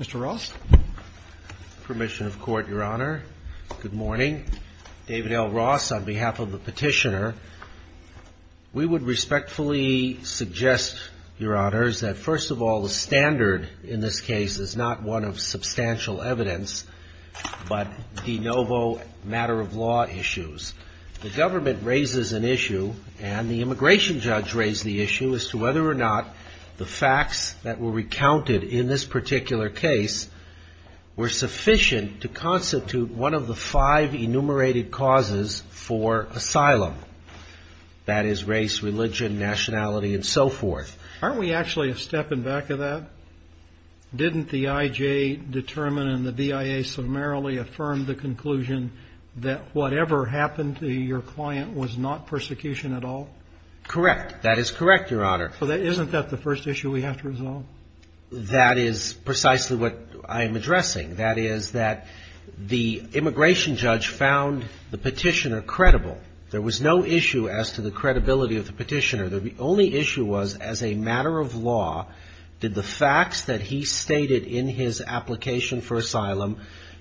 Mr. Ross, permission of court, your honor. Good morning. David L. Ross on behalf of the petitioner. We would respectfully suggest, your honors, that first of all, the standard in this case is not one of substantial evidence, but de novo matter of law issues. The government raises an issue, and the immigration judge raised the issue, as to whether or not the facts that were recounted in this particular case were sufficient to constitute one of the five enumerated causes for asylum. That is, race, religion, nationality, and so forth. Aren't we actually a step in back of that? Didn't the IJ determine and the BIA summarily affirm the conclusion that whatever happened to your client was not persecution at all? Correct. That is correct, your honor. So isn't that the first issue we have to resolve? That is precisely what I am addressing. That is that the immigration judge found the petitioner credible. There was no issue as to the credibility of the petitioner. The only issue was, as a matter of law, did the facts that he stated in his application for asylum,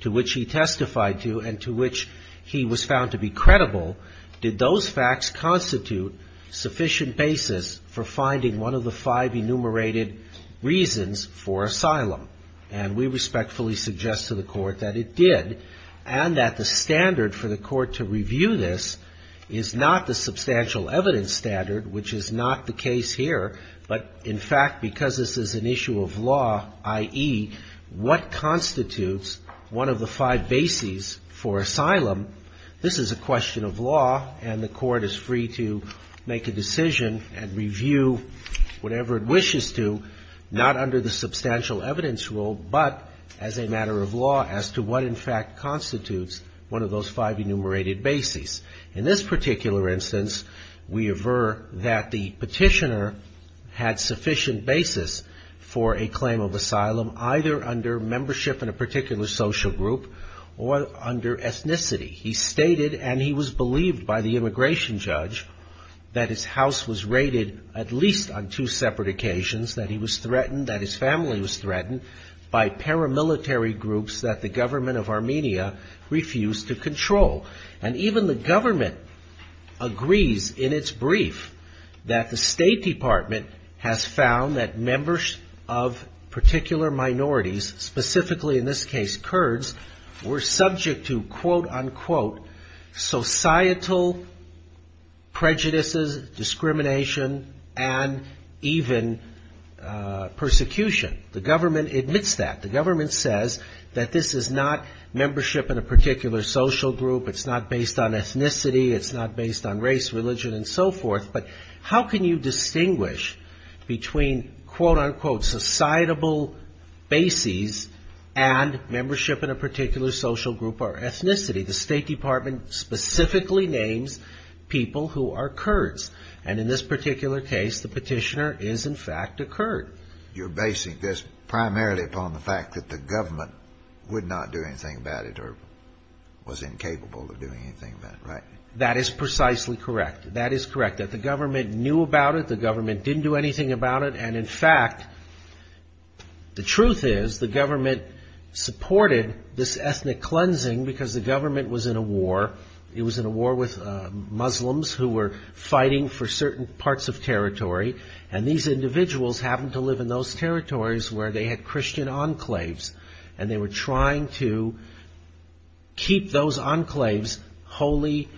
to which he testified to and to which he was found to be credible, did those facts constitute sufficient basis for finding one of the five enumerated reasons for asylum? And we respectfully suggest to the Court that it did, and that the standard for the Court to review this is not the substantial evidence standard, which is not the case here, but, in fact, because this is an issue of law, i.e., what constitutes one of the five bases for asylum, this is a question of law, and the Court is free to make a decision and review whatever it wishes to, not under the substantial evidence rule, but as a matter of law as to what in the five enumerated bases. In this particular instance, we aver that the petitioner had sufficient basis for a claim of asylum, either under membership in a particular social group or under ethnicity. He stated, and he was believed by the immigration judge, that his house was raided at least on two separate occasions, that he was threatened, that his family was threatened by paramilitary groups that the government of Armenia refused to control, and even the government agrees in its brief that the State Department has found that members of particular minorities, specifically, in this case, Kurds, were subject to, quote, unquote, societal prejudices, discrimination, and even persecution. The government admits that. The government says that this is not membership in a particular social group, it's not based on ethnicity, it's not based on race, religion, and so forth, but how can you distinguish between, quote, unquote, societal bases and membership in a particular social group or ethnicity? The State Department specifically names people who are Kurds, and in this particular case, the petitioner is, in fact, a Kurd. You're basing this primarily upon the fact that the government would not do anything about it or was incapable of doing anything about it, right? That is precisely correct. That is correct, that the government knew about it, the government didn't do anything about it, and in fact, the truth is, the government supported this ethnic cleansing because the government was in a war. It was in a war with Muslims who were fighting for certain parts of territory, and these individuals happened to live in those territories where they had Christian enclaves, and they were trying to keep those enclaves wholly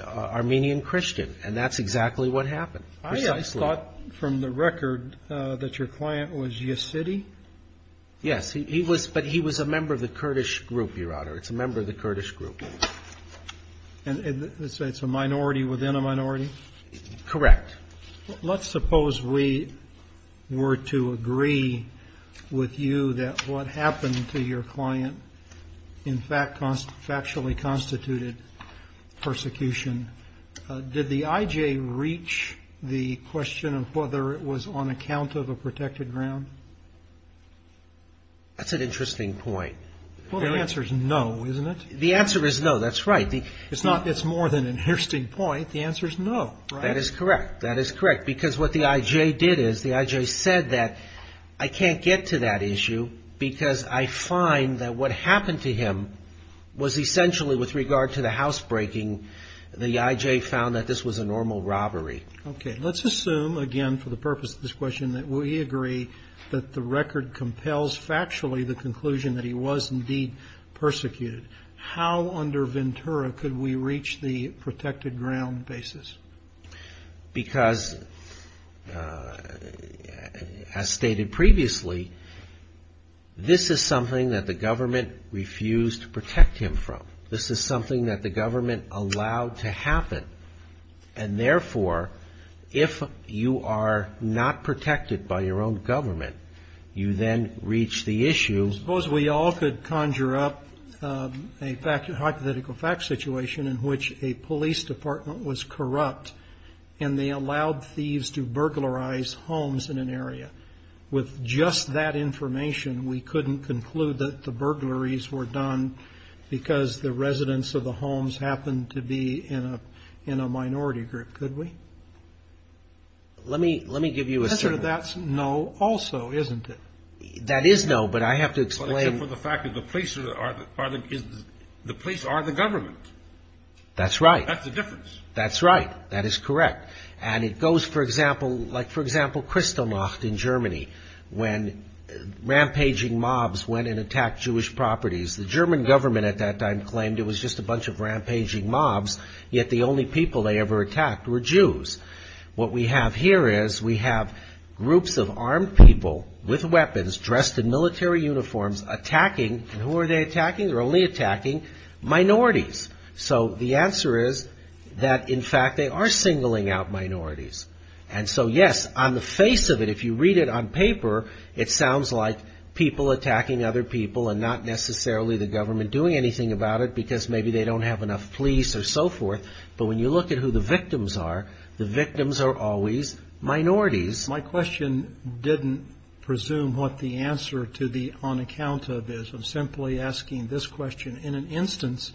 Armenian Christian, and that's exactly what happened. I thought from the record that your client was Yassidi? Yes, he was, but he was a member of the Kurdish group, Your Honor, it's a member of the Kurdish group. And let's say it's a minority within a minority? Correct. Let's suppose we were to agree with you that what happened to your client, in fact, factually constituted persecution. Did the IJ reach the question of whether it was on account of a protected ground? That's an interesting point. Well, the answer is no, isn't it? The answer is no, that's right. It's not, it's more than an interesting point. The answer is no. That is correct. That is correct. Because what the IJ did is, the IJ said that I can't get to that issue because I find that what happened to him was essentially, with regard to the housebreaking, the IJ found that this was a normal robbery. Okay, let's assume, again, for the purpose of this question, that we agree that the record compels factually the conclusion that he was indeed persecuted. How under Ventura could we reach the protected ground basis? Because, as stated previously, this is something that the government refused to protect him from. This is something that the government allowed to happen. And therefore, if you are not protected by your own government, you then reach the issue. Suppose we all could conjure up a hypothetical fact situation in which a police department was corrupt and they allowed thieves to burglarize homes in an area. With just that information, we couldn't conclude that the burglaries were done because the residents of the homes happened to be in a minority group, could we? Let me give you a certain answer. The answer to that's no also, isn't it? That is no, but I have to explain for the fact that the police are the government. That's right. That's the difference. That's right. That is correct. And it goes, for example, like, for example, Kristallnacht in Germany, when rampaging mobs went and attacked Jewish properties. The German government at that time claimed it was just a bunch of rampaging mobs, yet the only people they ever attacked were Jews. What we have here is we have groups of armed people with weapons dressed in military uniforms attacking, and who are they attacking? They're only attacking minorities. So the answer is that, in fact, they are singling out minorities. And so, yes, on the face of it, if you read it on paper, it sounds like people attacking other people and not necessarily the government doing anything about it because maybe they don't have enough police or so forth. But when you look at who the victims are, the victims are always minorities. My question didn't presume what the answer to the on account of is. I'm simply asking this question in an instance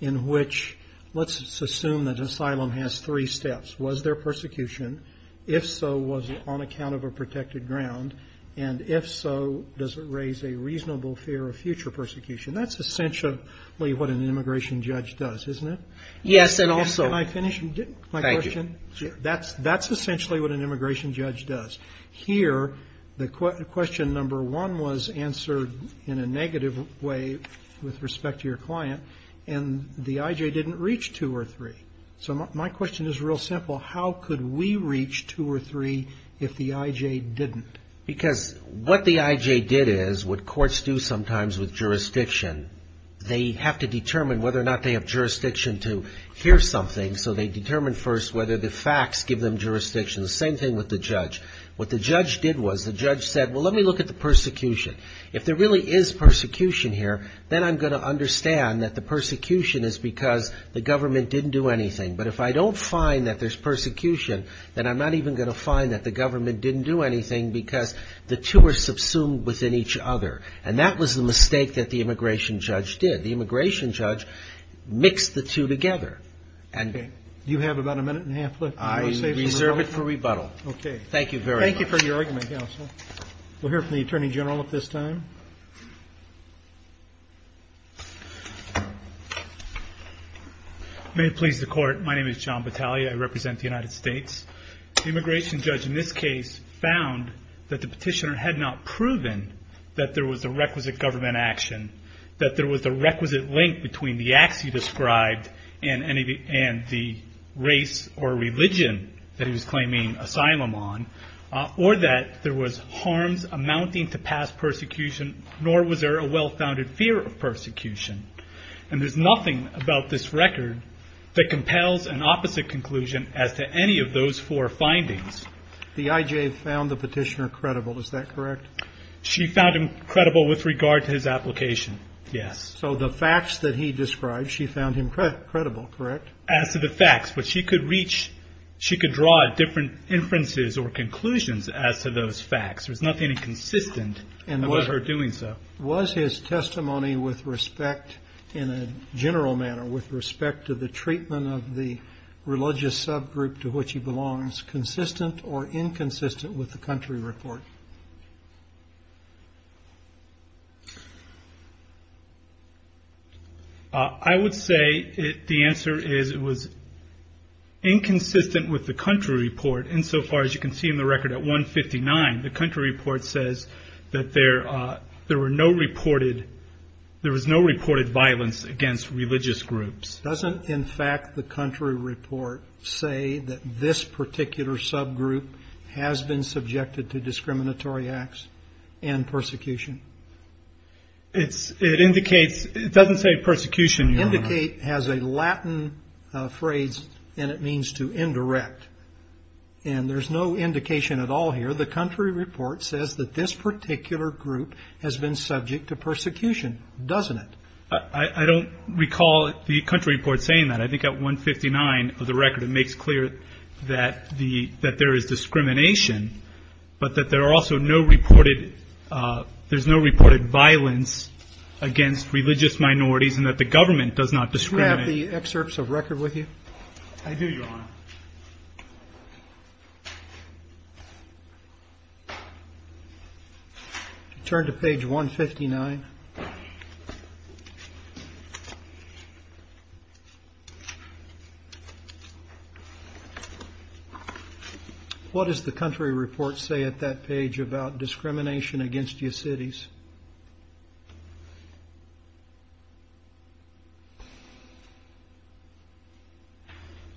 in which, let's assume that asylum has three steps. Was there persecution? If so, was it on account of a protected ground? And if so, does it raise a reasonable fear of future persecution? That's essentially what an immigration judge does, isn't it? Yes. And also I finished my question. That's that's essentially what an immigration judge does here. The question number one was answered in a negative way with respect to your client. And the I.J. didn't reach two or three. So my question is real simple. How could we reach two or three if the I.J. didn't? Because what the I.J. did is what courts do sometimes with jurisdiction. They have to determine whether or not they have jurisdiction to hear something. So they determine first whether the facts give them jurisdiction. The same thing with the judge. What the judge did was the judge said, well, let me look at the persecution. If there really is persecution here, then I'm going to understand that the persecution is because the government didn't do anything. But if I don't find that there's persecution, then I'm not even going to find that the government didn't do anything because the two are subsumed within each other. And that was the mistake that the immigration judge did. The immigration judge mixed the two together. And you have about a minute and a half left. I reserve it for rebuttal. OK. Thank you very much. Thank you for your argument. We'll hear from the attorney general at this time. May it please the court. My name is John Battaglia. I represent the United States. The immigration judge in this case found that the petitioner had not proven that there was a requisite government action, that there was a requisite link between the acts he described and the race or religion that he was claiming asylum on, or that there was harms amounting to past persecution, nor was there a well-founded fear of persecution. And there's nothing about this record that compels an opposite conclusion as to any of those four findings. The IJ found the petitioner credible. Is that correct? She found him credible with regard to his application. Yes. So the facts that he described, she found him credible, correct? As to the facts, but she could reach, she could draw different inferences or conclusions as to those facts. There's nothing inconsistent about her doing so. Was his testimony with respect in a general manner, with respect to the treatment of the religious subgroup to which he belongs, consistent or inconsistent with the country report? I would say the answer is it was inconsistent with the country report insofar as you can see in the record at 159, the country report says that there were no reported, there was no reported violence against religious groups. Doesn't in fact the country report say that this particular subgroup has been subjected to discriminatory acts and persecution? It's it indicates it doesn't say persecution. Indicate has a Latin phrase and it means to indirect. And there's no indication at all here. The country report says that this particular group has been subject to persecution, doesn't it? I don't recall the country report saying that. I think at 159 of the record, it makes clear that the, that there is discrimination, but that there are also no reported, uh, there's no reported violence against religious minorities and that the government does not discriminate the excerpts of record with you. I do your honor. Turn to page 159. What does the country report say at that page about discrimination against your cities?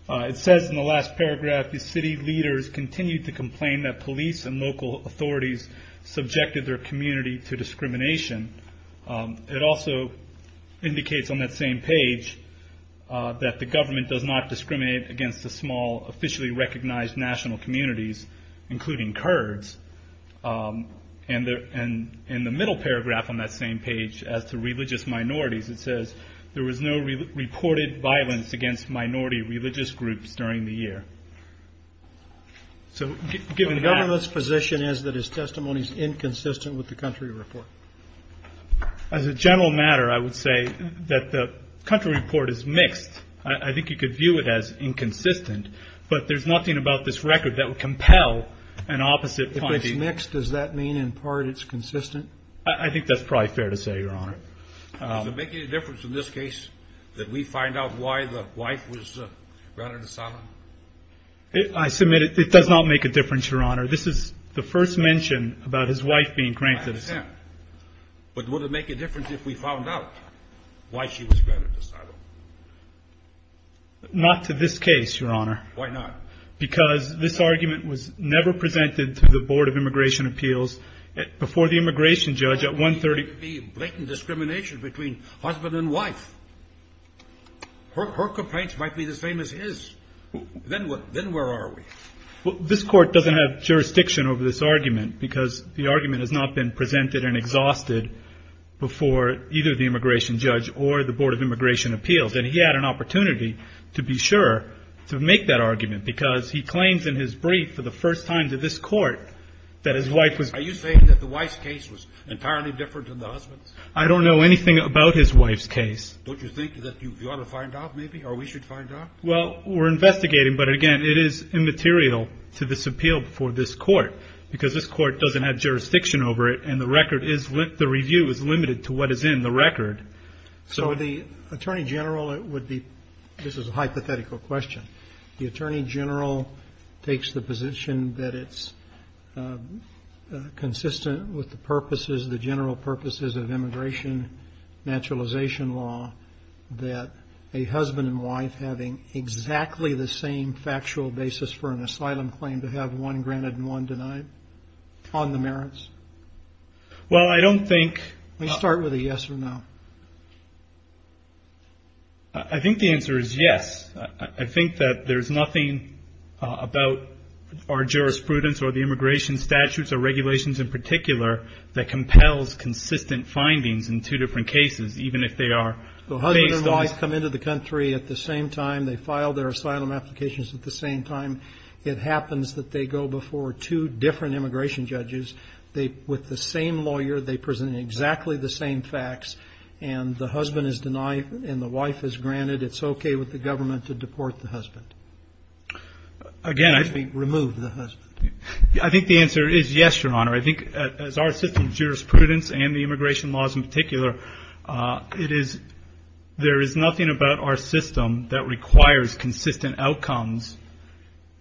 It says in the last paragraph, the city leaders continued to complain that police and local authorities subjected their community to discrimination. Um, it also indicates on that same page, uh, that the government does not discriminate against the small officially recognized national communities, including Kurds. Um, and there, and in the middle paragraph on that same page as to religious minorities, it says there was no reported violence against minority religious groups during the year. So given the government's position is that his testimony is inconsistent with the country report. As a general matter, I would say that the country report is mixed. I think you could view it as inconsistent, but there's nothing about this record that would compel an opposite point. If it's mixed, does that mean in part it's consistent? I think that's probably fair to say, your honor. Does it make any difference in this case that we find out why the wife was, uh, granted asylum? I submit it. It does not make a difference, your honor. This is the first mention about his wife being granted asylum. But would it make a difference if we found out why she was granted asylum? Not to this case, your honor. Why not? Because this argument was never presented to the board of immigration appeals before the immigration judge at one 30. The blatant discrimination between husband and wife, her complaints might be the same as his. Then what, then where are we? Well, this court doesn't have jurisdiction over this argument because the argument has not been presented and exhausted before either the immigration judge or the board of immigration appeals. And he had an opportunity to be sure to make that argument because he claims in his brief for the first time to this court that his wife was, are you saying that the wife's case was entirely different than the husband's? I don't know anything about his wife's case. Don't you think that you ought to find out maybe, or we should find out? Well, we're investigating, but again, it is immaterial to this appeal before this court because this court doesn't have jurisdiction over it. And the record is the review is limited to what is in the record. So the attorney general would be, this is a hypothetical question. The attorney general takes the position that it's consistent with the purposes, the general purposes of immigration naturalization law, that a husband and wife having exactly the same factual basis for an asylum claim to have one granted and one denied on the merits? Well, I don't think. Let's start with a yes or no. I think the answer is yes. I think that there's nothing about our jurisprudence or the immigration statutes or regulations in particular that compels consistent findings in two different cases, even if they are based on. If the husband and wife come into the country at the same time, they file their asylum applications at the same time, it happens that they go before two different immigration judges. They, with the same lawyer, they present exactly the same facts. And the husband is denied and the wife is granted. It's okay with the government to deport the husband. Again, I think. Remove the husband. I think the answer is yes, Your Honor. I think as our system of jurisprudence and the immigration laws in particular, it is, there is nothing about our system that requires consistent outcomes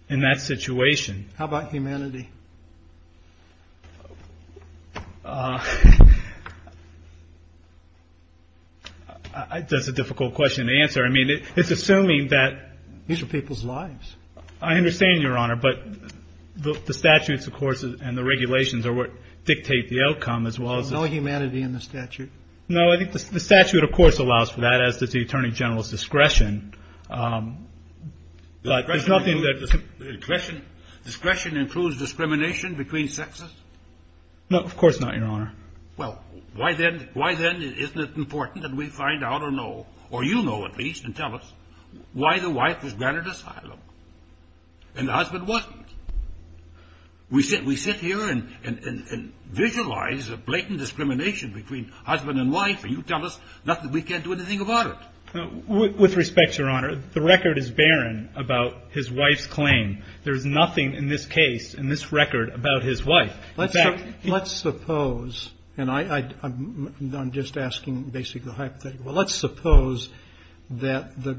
in that situation. How about humanity? That's a difficult question to answer. I mean, it's assuming that these are people's lives. I understand, Your Honor, but the statutes, of course, and the regulations are what dictate the outcome as well as. No humanity in the statute. No, I think the statute, of course, allows for that as does the Attorney General's discretion, but there's nothing that. Discretion includes discrimination between sexes? No, of course not, Your Honor. Well, why then, why then isn't it important that we find out or know, or you know at least and tell us, why the wife was granted asylum? And the husband wasn't. We sit here and visualize a blatant discrimination between husband and wife, and you tell us nothing. We can't do anything about it. With respect, Your Honor, the record is barren about his wife's claim. There's nothing in this case, in this record, about his wife. Let's suppose, and I'm just asking basically a hypothetical, let's suppose that the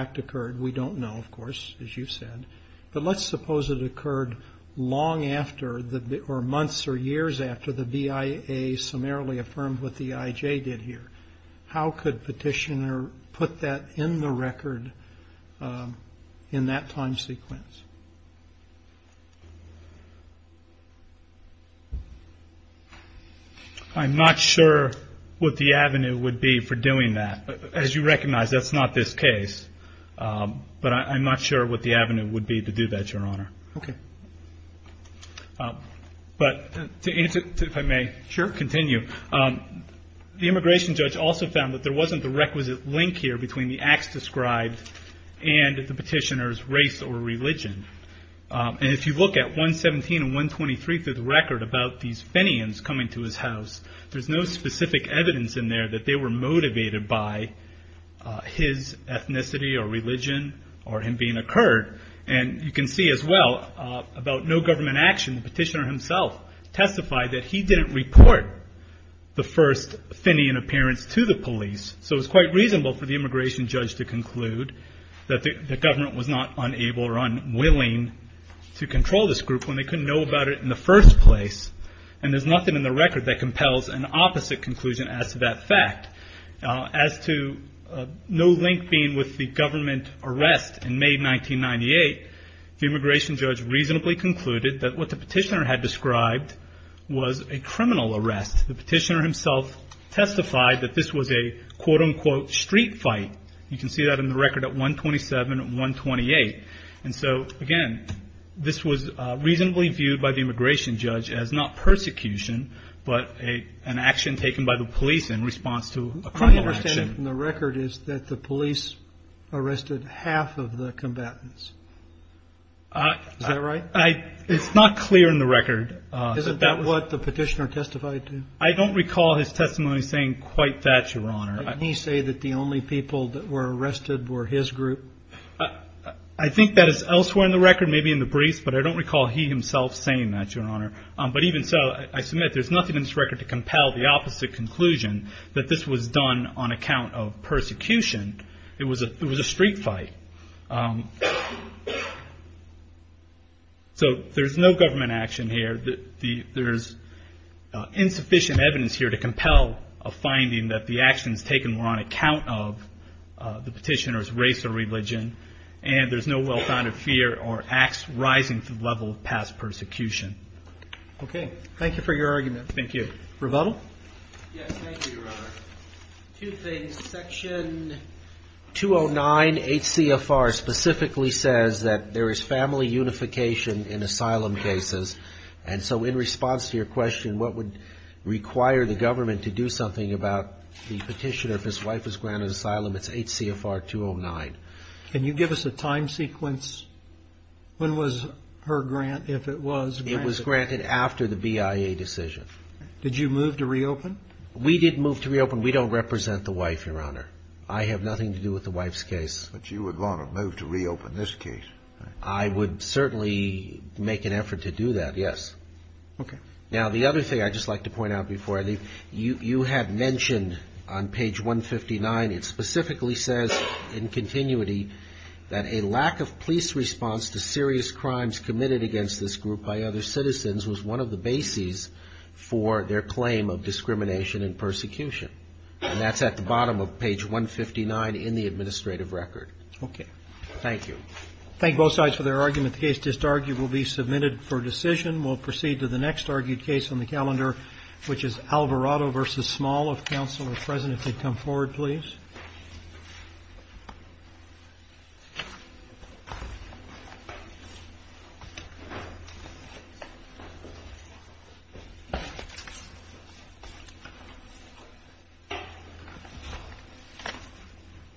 act occurred, we don't know, of course, as you've said, but let's suppose it occurred long after, or months or years after the BIA summarily affirmed what the IJ did here. How could petitioner put that in the record in that time sequence? I'm not sure what the avenue would be for doing that. As you recognize, that's not this case. But I'm not sure what the avenue would be to do that, Your Honor. Okay. But to answer, if I may, continue, the immigration judge also found that there wasn't the requisite link here between the acts described and the petitioner's race or religion. And if you look at 117 and 123 through the record about these Fenians coming to his house, there's no specific evidence in there that they were motivated by his ethnicity or religion or him being a Kurd. And you can see as well about no government action, the petitioner himself testified that he didn't report the first Fenian appearance to the police. So it was quite reasonable for the immigration judge to conclude that the government was not unable or unwilling to control this group when they couldn't know about it in the first place. And there's nothing in the record that compels an opposite conclusion as to that arrest. In May 1998, the immigration judge reasonably concluded that what the petitioner had described was a criminal arrest. The petitioner himself testified that this was a, quote unquote, street fight. You can see that in the record at 127 and 128. And so, again, this was reasonably viewed by the immigration judge as not persecution, but an action taken by the police in response to a criminal action. And the record is that the police arrested half of the combatants. Is that right? It's not clear in the record. Isn't that what the petitioner testified to? I don't recall his testimony saying quite that, your honor. Did he say that the only people that were arrested were his group? I think that is elsewhere in the record, maybe in the briefs, but I don't recall he himself saying that, your honor. But even so, I submit there's nothing in this record to compel the opposite conclusion that this was done on account of persecution. It was a street fight. So there's no government action here. There's insufficient evidence here to compel a finding that the actions taken were on account of the petitioner's race or religion. And there's no well-founded fear or acts rising to the level of past persecution. Okay. Thank you for your argument. Thank you. Rebuttal? Yes, thank you, your honor. Two things. Section 209 HCFR specifically says that there is family unification in asylum cases. And so in response to your question, what would require the government to do something about the petitioner, if his wife was granted asylum, it's HCFR 209. Can you give us a time sequence? When was her grant, if it was granted? It was granted after the BIA decision. Did you move to reopen? We didn't move to reopen. We don't represent the wife, your honor. I have nothing to do with the wife's case. But you would want to move to reopen this case. I would certainly make an effort to do that, yes. Okay. Now, the other thing I'd just like to point out before I leave, you had mentioned on page 159, it specifically says in continuity that a lack of police response to serious crimes committed against this group by other citizens was one of the bases for their claim of discrimination and persecution. And that's at the bottom of page 159 in the administrative record. Okay. Thank you. Thank both sides for their argument. The case just argued will be submitted for decision. We'll proceed to the next argued case on the calendar, which is Alvarado versus Small. If counsel are present, if they'd come forward, please.